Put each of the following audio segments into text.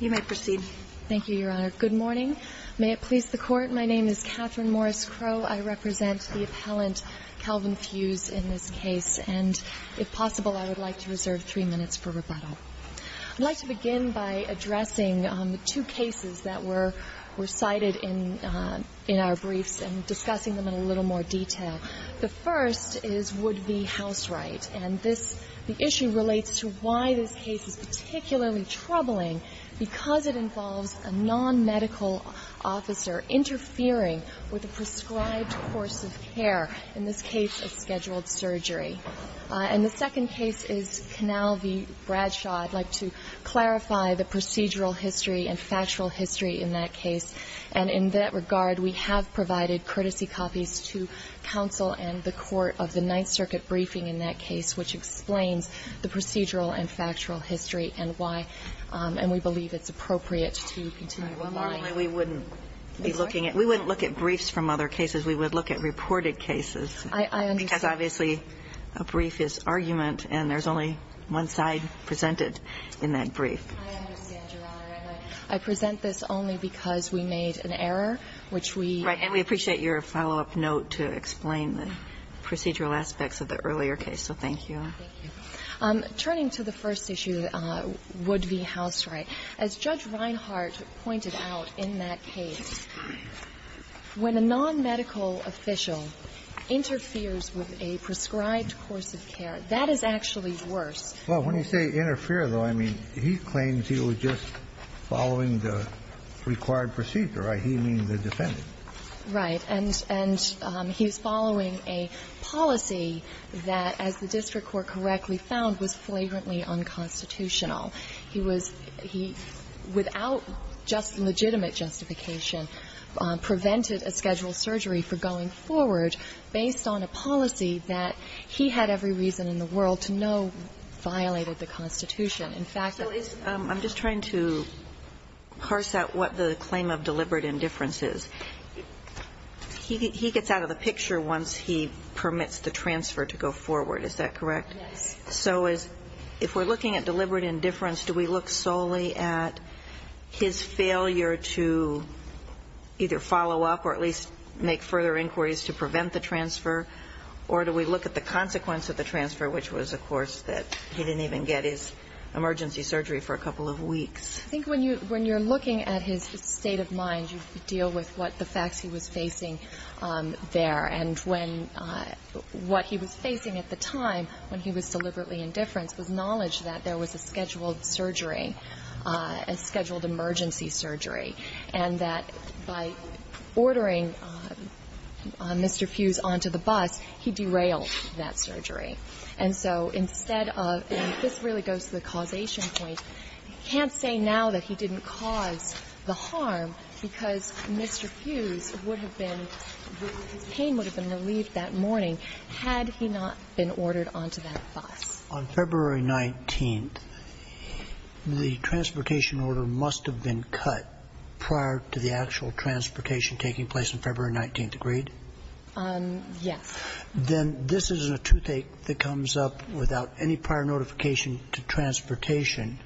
You may proceed. Thank you, Your Honor. Good morning. May it please the Court, my name is Katherine Morris Crowe. I represent the appellant, Calvin Fuse, in this case. And if possible, I would like to reserve three minutes for rebuttal. I'd like to begin by addressing the two cases that were cited in our briefs and discussing them in a little more detail. The first is Wood v. Houseright. And this issue relates to why this case is particularly troubling, because it involves a non-medical officer interfering with a prescribed course of care, in this case a scheduled surgery. And the second case is Canal v. Bradshaw. I'd like to clarify the procedural history and factual history in that case. And in that regard, we have provided courtesy copies to counsel and the court of the Ninth Circuit briefing in that case, which explains the procedural and factual history and why. And we believe it's appropriate to continue the line. Normally, we wouldn't be looking at – we wouldn't look at briefs from other cases. We would look at reported cases. I understand. Because, obviously, a brief is argument, and there's only one side presented in that brief. I understand, Your Honor. And I present this only because we made an error, which we – procedural aspects of the earlier case. So thank you. Thank you. Turning to the first issue, Wood v. Houseright, as Judge Reinhart pointed out in that case, when a non-medical official interferes with a prescribed course of care, that is actually worse. Well, when you say interfere, though, I mean he claims he was just following the required procedure, right? He means the defendant. Right. And he was following a policy that, as the district court correctly found, was flagrantly unconstitutional. He was – he, without just legitimate justification, prevented a scheduled surgery for going forward based on a policy that he had every reason in the world to know violated the Constitution. In fact, it's – I'm just trying to parse out what the claim of deliberate indifference is. He gets out of the picture once he permits the transfer to go forward. Is that correct? Yes. So is – if we're looking at deliberate indifference, do we look solely at his failure to either follow up or at least make further inquiries to prevent the transfer, or do we look at the consequence of the transfer, which was, of course, that he didn't even get his emergency surgery for a couple of weeks? I think when you – when you're looking at his state of mind, you deal with what the facts he was facing there. And when – what he was facing at the time when he was deliberately indifference was knowledge that there was a scheduled surgery, a scheduled emergency surgery, and that by ordering Mr. Hughes onto the bus, he derailed that surgery. And so instead of – and this really goes to the causation point. You can't say now that he didn't cause the harm because Mr. Hughes would have been – his pain would have been relieved that morning had he not been ordered onto that bus. On February 19th, the transportation order must have been cut prior to the actual transportation taking place on February 19th, agreed? Yes. Then this is a toothache that comes up without any prior notification to transportation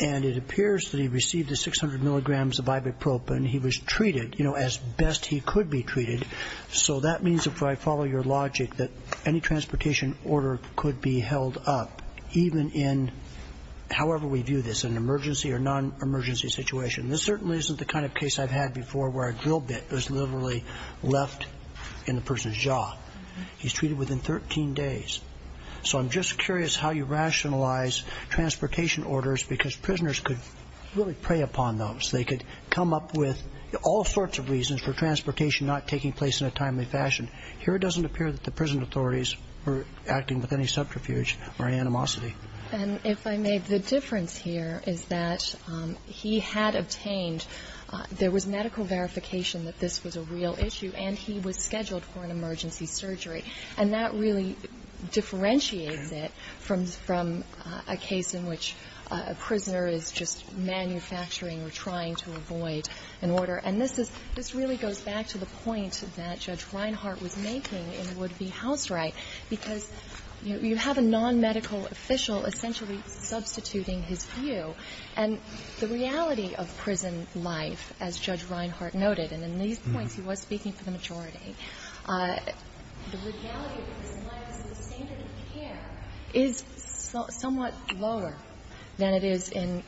and it appears that he received the 600 milligrams of ibuprofen. He was treated, you know, as best he could be treated. So that means, if I follow your logic, that any transportation order could be held up, even in – however we view this, an emergency or non-emergency situation. This certainly isn't the kind of case I've had before where a drill bit was literally left in the person's jaw. He's treated within 13 days. So I'm just curious how you rationalize transportation orders because prisoners could really prey upon those. They could come up with all sorts of reasons for transportation not taking place in a timely fashion. Here it doesn't appear that the prison authorities were acting with any subterfuge or animosity. And if I may, the difference here is that he had obtained – there was medical verification that this was a real issue and he was scheduled for an emergency surgery. And that really differentiates it from a case in which a prisoner is just manufacturing or trying to avoid an order. And this is – this really goes back to the point that Judge Reinhart was making in would-be house right, because you have a non-medical official essentially substituting his view. And the reality of prison life, as Judge Reinhart noted, and in these points he was speaking for the majority, the reality of prison life is that the standard of care is somewhat lower than it is in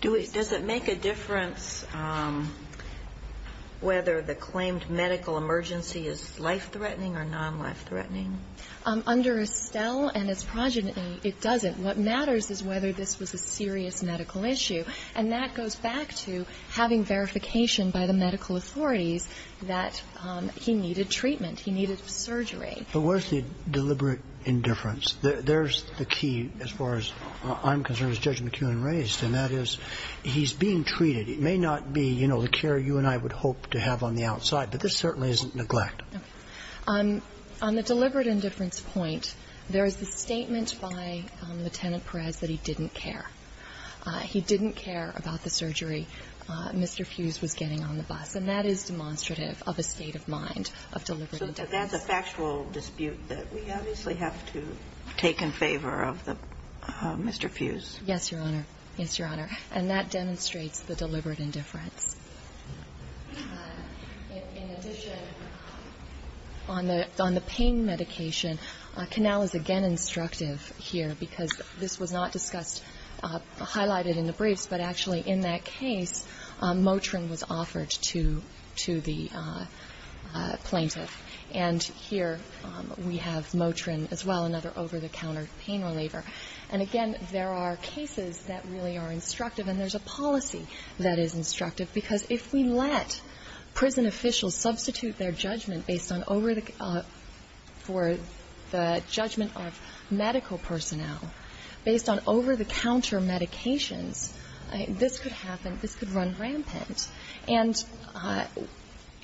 prisons. Does it make a difference whether the claimed medical emergency is life-threatening or non-life-threatening? Under Estelle and its progeny, it doesn't. What matters is whether this was a serious medical issue. And that goes back to having verification by the medical authorities that he needed treatment, he needed surgery. But where's the deliberate indifference? There's the key as far as I'm concerned, as Judge McKeown raised, and that is he's being treated. It may not be, you know, the care you and I would hope to have on the outside, but this certainly isn't neglect. Okay. On the deliberate indifference point, there is a statement by Lieutenant Perez that he didn't care. He didn't care about the surgery Mr. Fuse was getting on the bus. And that is demonstrative of a state of mind of deliberate indifference. So that's a factual dispute that we obviously have to take in favor of Mr. Fuse. Yes, Your Honor. Yes, Your Honor. And that demonstrates the deliberate indifference. In addition, on the pain medication, Canal is again instructive here because this was not discussed, highlighted in the briefs, but actually in that case, Motrin was offered to the plaintiff. And here we have Motrin as well, another over-the-counter pain reliever. And again, there are cases that really are instructive, and there's a policy that is instructive. Because if we let prison officials substitute their judgment based on over the judgment of medical personnel, based on over-the-counter medications, this could happen. This could run rampant. And,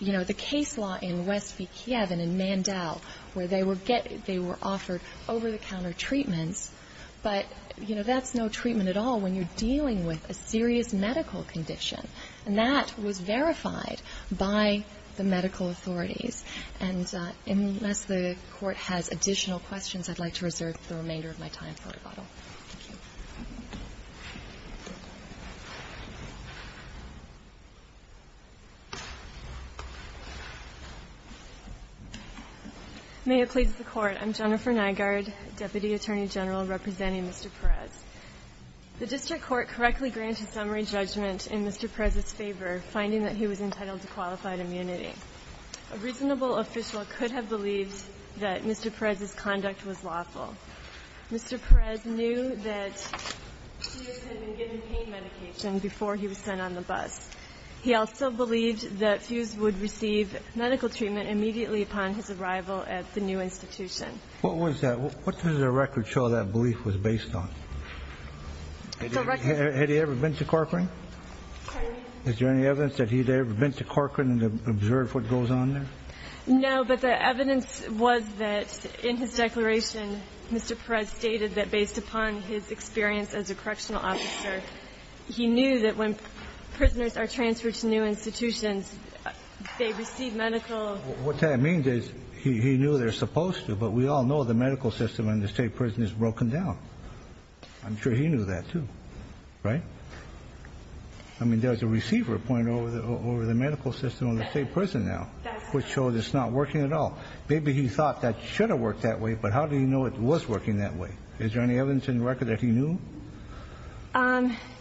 you know, the case law in Westby, Kiev and in Mandel, where they were offered over-the-counter treatments, but, you know, that's no treatment at all when you're dealing with a serious medical condition. And that was verified by the medical authorities. And unless the Court has additional questions, I'd like to reserve the remainder of my time for rebuttal. Thank you. May it please the Court. I'm Jennifer Nygaard, Deputy Attorney General, representing Mr. Perez. The district court correctly granted summary judgment in Mr. Perez's favor, finding that he was entitled to qualified immunity. A reasonable official could have believed that Mr. Perez's conduct was lawful. Mr. Perez knew that he had been given pain medication before he was sent on the bus. He also believed that Fuse would receive medical treatment immediately upon his arrival at the new institution. What was that? What does the record show that belief was based on? Had he ever been to Corcoran? Is there any evidence that he'd ever been to Corcoran and observed what goes on there? No, but the evidence was that, in his declaration, Mr. Perez stated that based upon his experience as a correctional officer, he knew that when prisoners are transferred to new institutions, they receive medical. What that means is he knew they're supposed to, but we all know the medical system in the state prison is broken down. I'm sure he knew that, too, right? I mean, there's a receiver point over the medical system in the state prison now, which shows it's not working at all. Maybe he thought that it should have worked that way, but how do you know it was working that way? Is there any evidence in the record that he knew?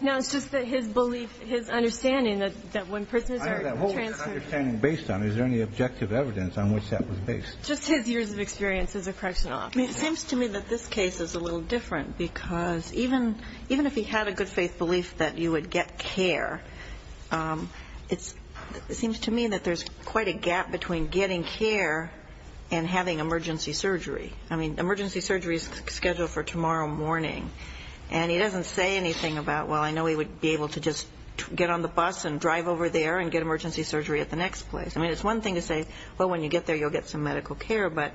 No, it's just that his belief, his understanding that when prisoners are transferred. I know that. What was his understanding based on? Is there any objective evidence on which that was based? Just his years of experience as a correctional officer. It seems to me that this case is a little different, because even if he had a good faith belief that you would get care, it seems to me that there's quite a gap between getting care and having emergency surgery. I mean, emergency surgery is scheduled for tomorrow morning, and he doesn't say anything about, well, I know he would be able to just get on the bus and drive over there and get emergency surgery at the next place. I mean, it's one thing to say, well, when you get there, you'll get some medical care, but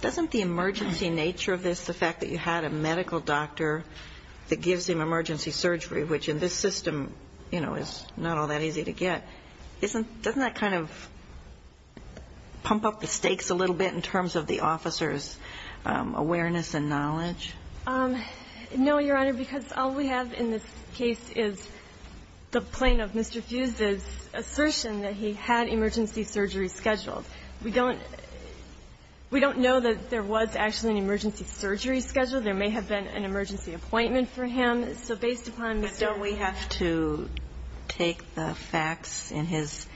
doesn't the emergency nature of this, the fact that you had a medical doctor that gives him emergency surgery, which in this system, you know, is not all that easy to get, doesn't that kind of pump up the stakes a little bit in terms of the officer's awareness and knowledge? No, Your Honor, because all we have in this case is the plain of Mr. Fuse's assertion that he had emergency surgery scheduled. We don't know that there was actually an emergency surgery scheduled. There may have been an emergency appointment for him. So based upon Mr. Fuse's assertion... But don't we have to take the facts in his,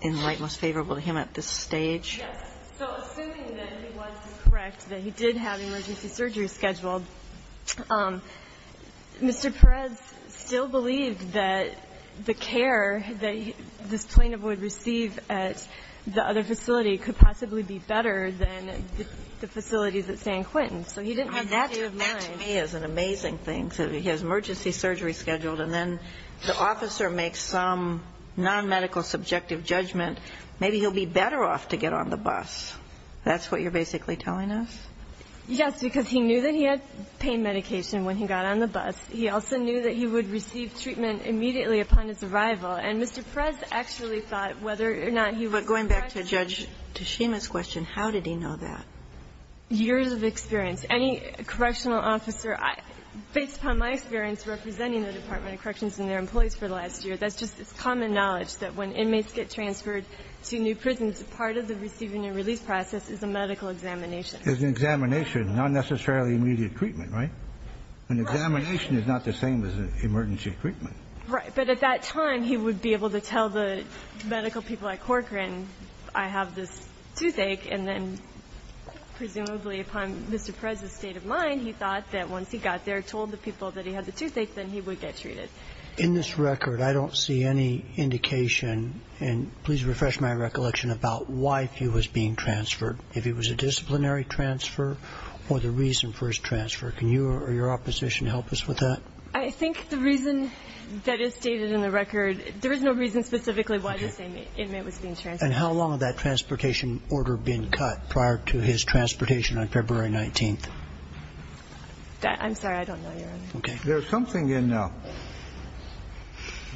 in light most favorable to him at this stage? Yes. So assuming that he was correct that he did have emergency surgery scheduled, Mr. Perez still believed that the care that this plaintiff would receive at the other facility could possibly be better than the facilities at San Quentin. So he didn't have that view of mind. I mean, that to me is an amazing thing. So he has emergency surgery scheduled, and then the officer makes some nonmedical subjective judgment, maybe he'll be better off to get on the bus. That's what you're basically telling us? Yes, because he knew that he had pain medication when he got on the bus. He also knew that he would receive treatment immediately upon his arrival. And Mr. Perez actually thought whether or not he was correct... But going back to Judge Toshima's question, how did he know that? Years of experience. Any correctional officer, based upon my experience representing the Department of Corrections and their employees for the last year, that's just common knowledge that when inmates get transferred to new prisons, part of the receiving and release process is a medical examination. Is an examination, not necessarily immediate treatment, right? An examination is not the same as an emergency treatment. Right. But at that time, he would be able to tell the medical people at Corcoran, I have this toothache. And then presumably upon Mr. Perez's state of mind, he thought that once he got there, told the people that he had the toothache, then he would get treated. In this record, I don't see any indication, and please refresh my recollection about why he was being transferred. If he was a disciplinary transfer or the reason for his transfer. Can you or your opposition help us with that? I think the reason that is stated in the record, there is no reason specifically why this inmate was being transferred. And how long had that transportation order been cut prior to his transportation on February 19th? I'm sorry, I don't know, Your Honor. Okay. There's something in, I'm not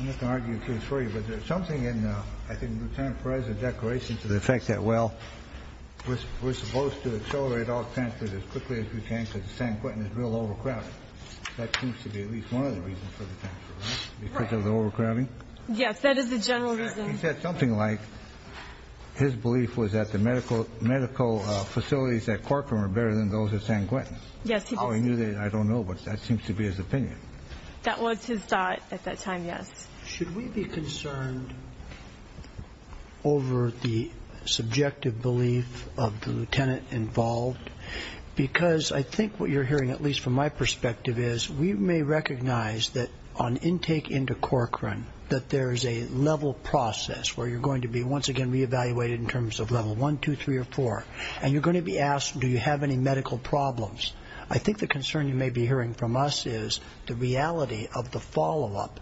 going to argue a case for you, but there's something in, I think, Lieutenant Perez's declaration to the effect that, well, we're supposed to accelerate all transfers as quickly as we can because San Quentin is real overcrowded. That seems to be at least one of the reasons for the transfer, right? Because of the overcrowding? Yes, that is the general reason. He said something like his belief was that the medical facilities at Corcoran were better than those at San Quentin. Yes, he did say that. I don't know, but that seems to be his opinion. That was his thought at that time, yes. Should we be concerned over the subjective belief of the lieutenant involved? Because I think what you're hearing, at least from my perspective, is we may recognize that on intake into Corcoran that there is a level process where you're going to be once again reevaluated in terms of level 1, 2, 3, or 4, and you're going to be asked do you have any medical problems. I think the concern you may be hearing from us is the reality of the follow-up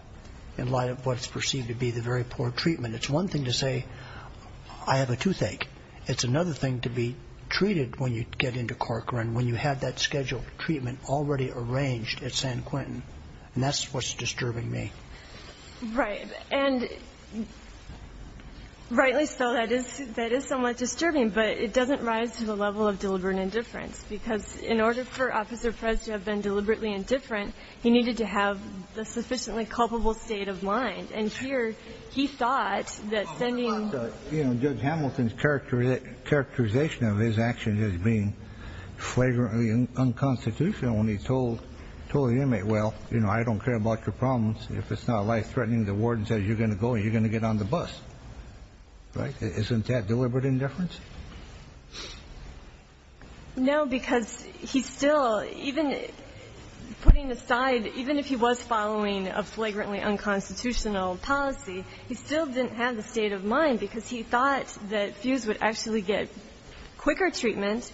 in light of what's perceived to be the very poor treatment. It's one thing to say I have a toothache. It's another thing to be treated when you get into Corcoran, when you have that scheduled treatment already arranged at San Quentin, and that's what's disturbing me. Right, and rightly so. That is somewhat disturbing, but it doesn't rise to the level of deliberate indifference because in order for Officer Perez to have been deliberately indifferent, he needed to have the sufficiently culpable state of mind, and here he thought that sending the... You know, Judge Hamilton's characterization of his action as being flagrantly unconstitutional when he told the inmate, well, you know, I don't care about your problems. If it's not life-threatening, the warden says you're going to go and you're going to get on the bus. Right? Isn't that deliberate indifference? No, because he still, even putting aside, even if he was following a flagrantly unconstitutional policy, he still didn't have the state of mind because he thought that Fuse would actually get quicker treatment,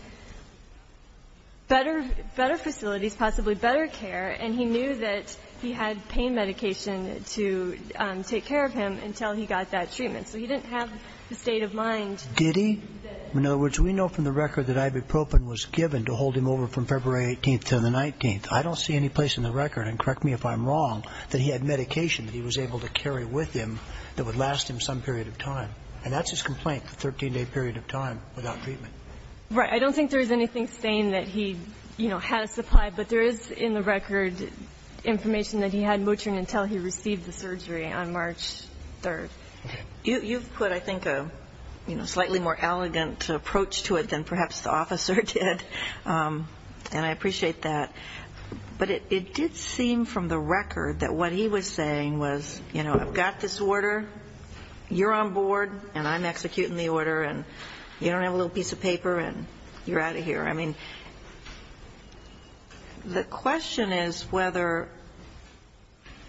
better facilities, possibly better care, and he knew that he had pain medication to take care of him until he got that treatment. So he didn't have the state of mind. Did he? In other words, we know from the record that ibuprofen was given to hold him over from February 18th until the 19th. I don't see any place in the record, and correct me if I'm wrong, that he had medication that he was able to carry with him that would last him some period of time. And that's his complaint, the 13-day period of time without treatment. Right. I don't think there's anything saying that he, you know, had a supply, but there is in the record information that he had Motrin until he received the surgery on March 3rd. Okay. You've put, I think, a slightly more elegant approach to it than perhaps the officer did, and I appreciate that. But it did seem from the record that what he was saying was, you know, I've got this order, you're on board, and I'm executing the order, and you don't have a little piece of paper, and you're out of here. I mean, the question is whether,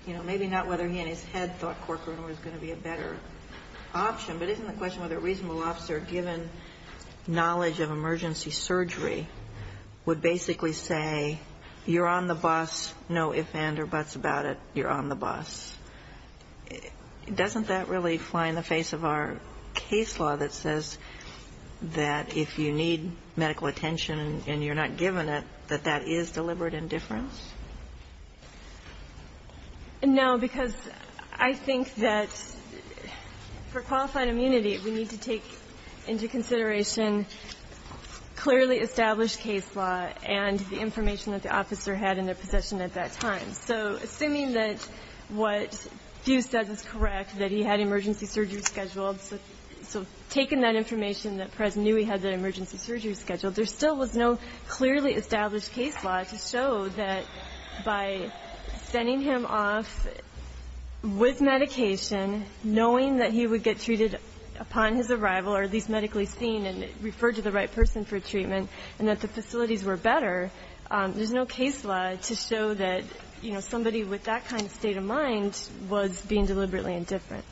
you know, maybe not whether he in his head thought Corcoran was going to be a better option, but isn't the question whether a reasonable officer, given knowledge of emergency surgery, would basically say, you're on the bus, no ifs, ands, or buts about it, you're on the bus. Doesn't that really fly in the face of our case law that says that if you need medical attention and you're not given it, that that is deliberate indifference? No, because I think that for qualified immunity, we need to take into consideration clearly established case law and the information that the officer had in their possession at that time. So assuming that what Hugh said was correct, that he had emergency surgery scheduled, so taking that information that Prez knew he had that emergency surgery scheduled, there still was no clearly established case law to show that by sending him off with medication, knowing that he would get treated upon his arrival, or at least medically seen, and referred to the right person for treatment, and that the facilities were better, there's no case law to show that, you know, somebody with that kind of state of mind was being deliberately indifferent.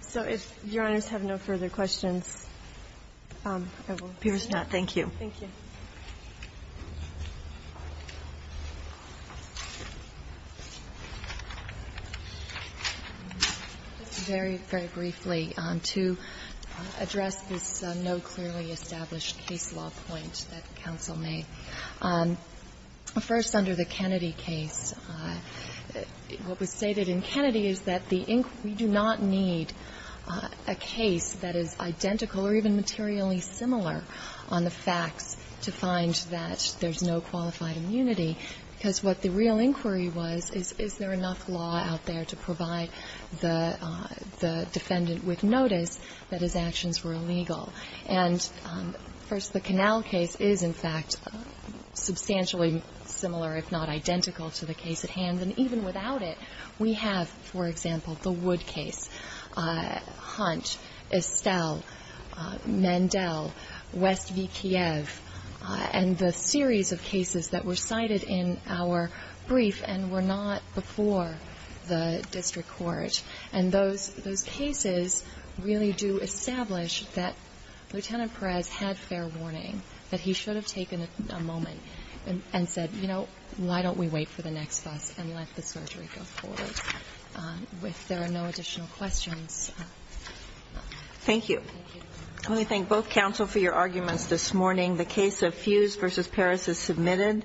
So if Your Honors have no further questions, I will. Thank you. Thank you. Very, very briefly, to address this no clearly established case law point that counsel made. First, under the Kennedy case, what was stated in Kennedy is that the inquiry did not need a case that is identical or even materially similar on the facts to find that there's no qualified immunity. Because what the real inquiry was is, is there enough law out there to provide the defendant with notice that his actions were illegal. And first, the Canal case is, in fact, substantially similar, if not identical, to the case at hand. And even without it, we have, for example, the Wood case, Hunt, Estelle, Mandel, West v. Kiev, and the series of cases that were cited in our brief and were not before the district court. And those cases really do establish that Lieutenant Perez had fair warning, that he should have taken a moment and said, you know, why don't we wait for the next bus and let the surgery go forward. If there are no additional questions. Thank you. Let me thank both counsel for your arguments this morning. The case of Fuse v. Perez is submitted.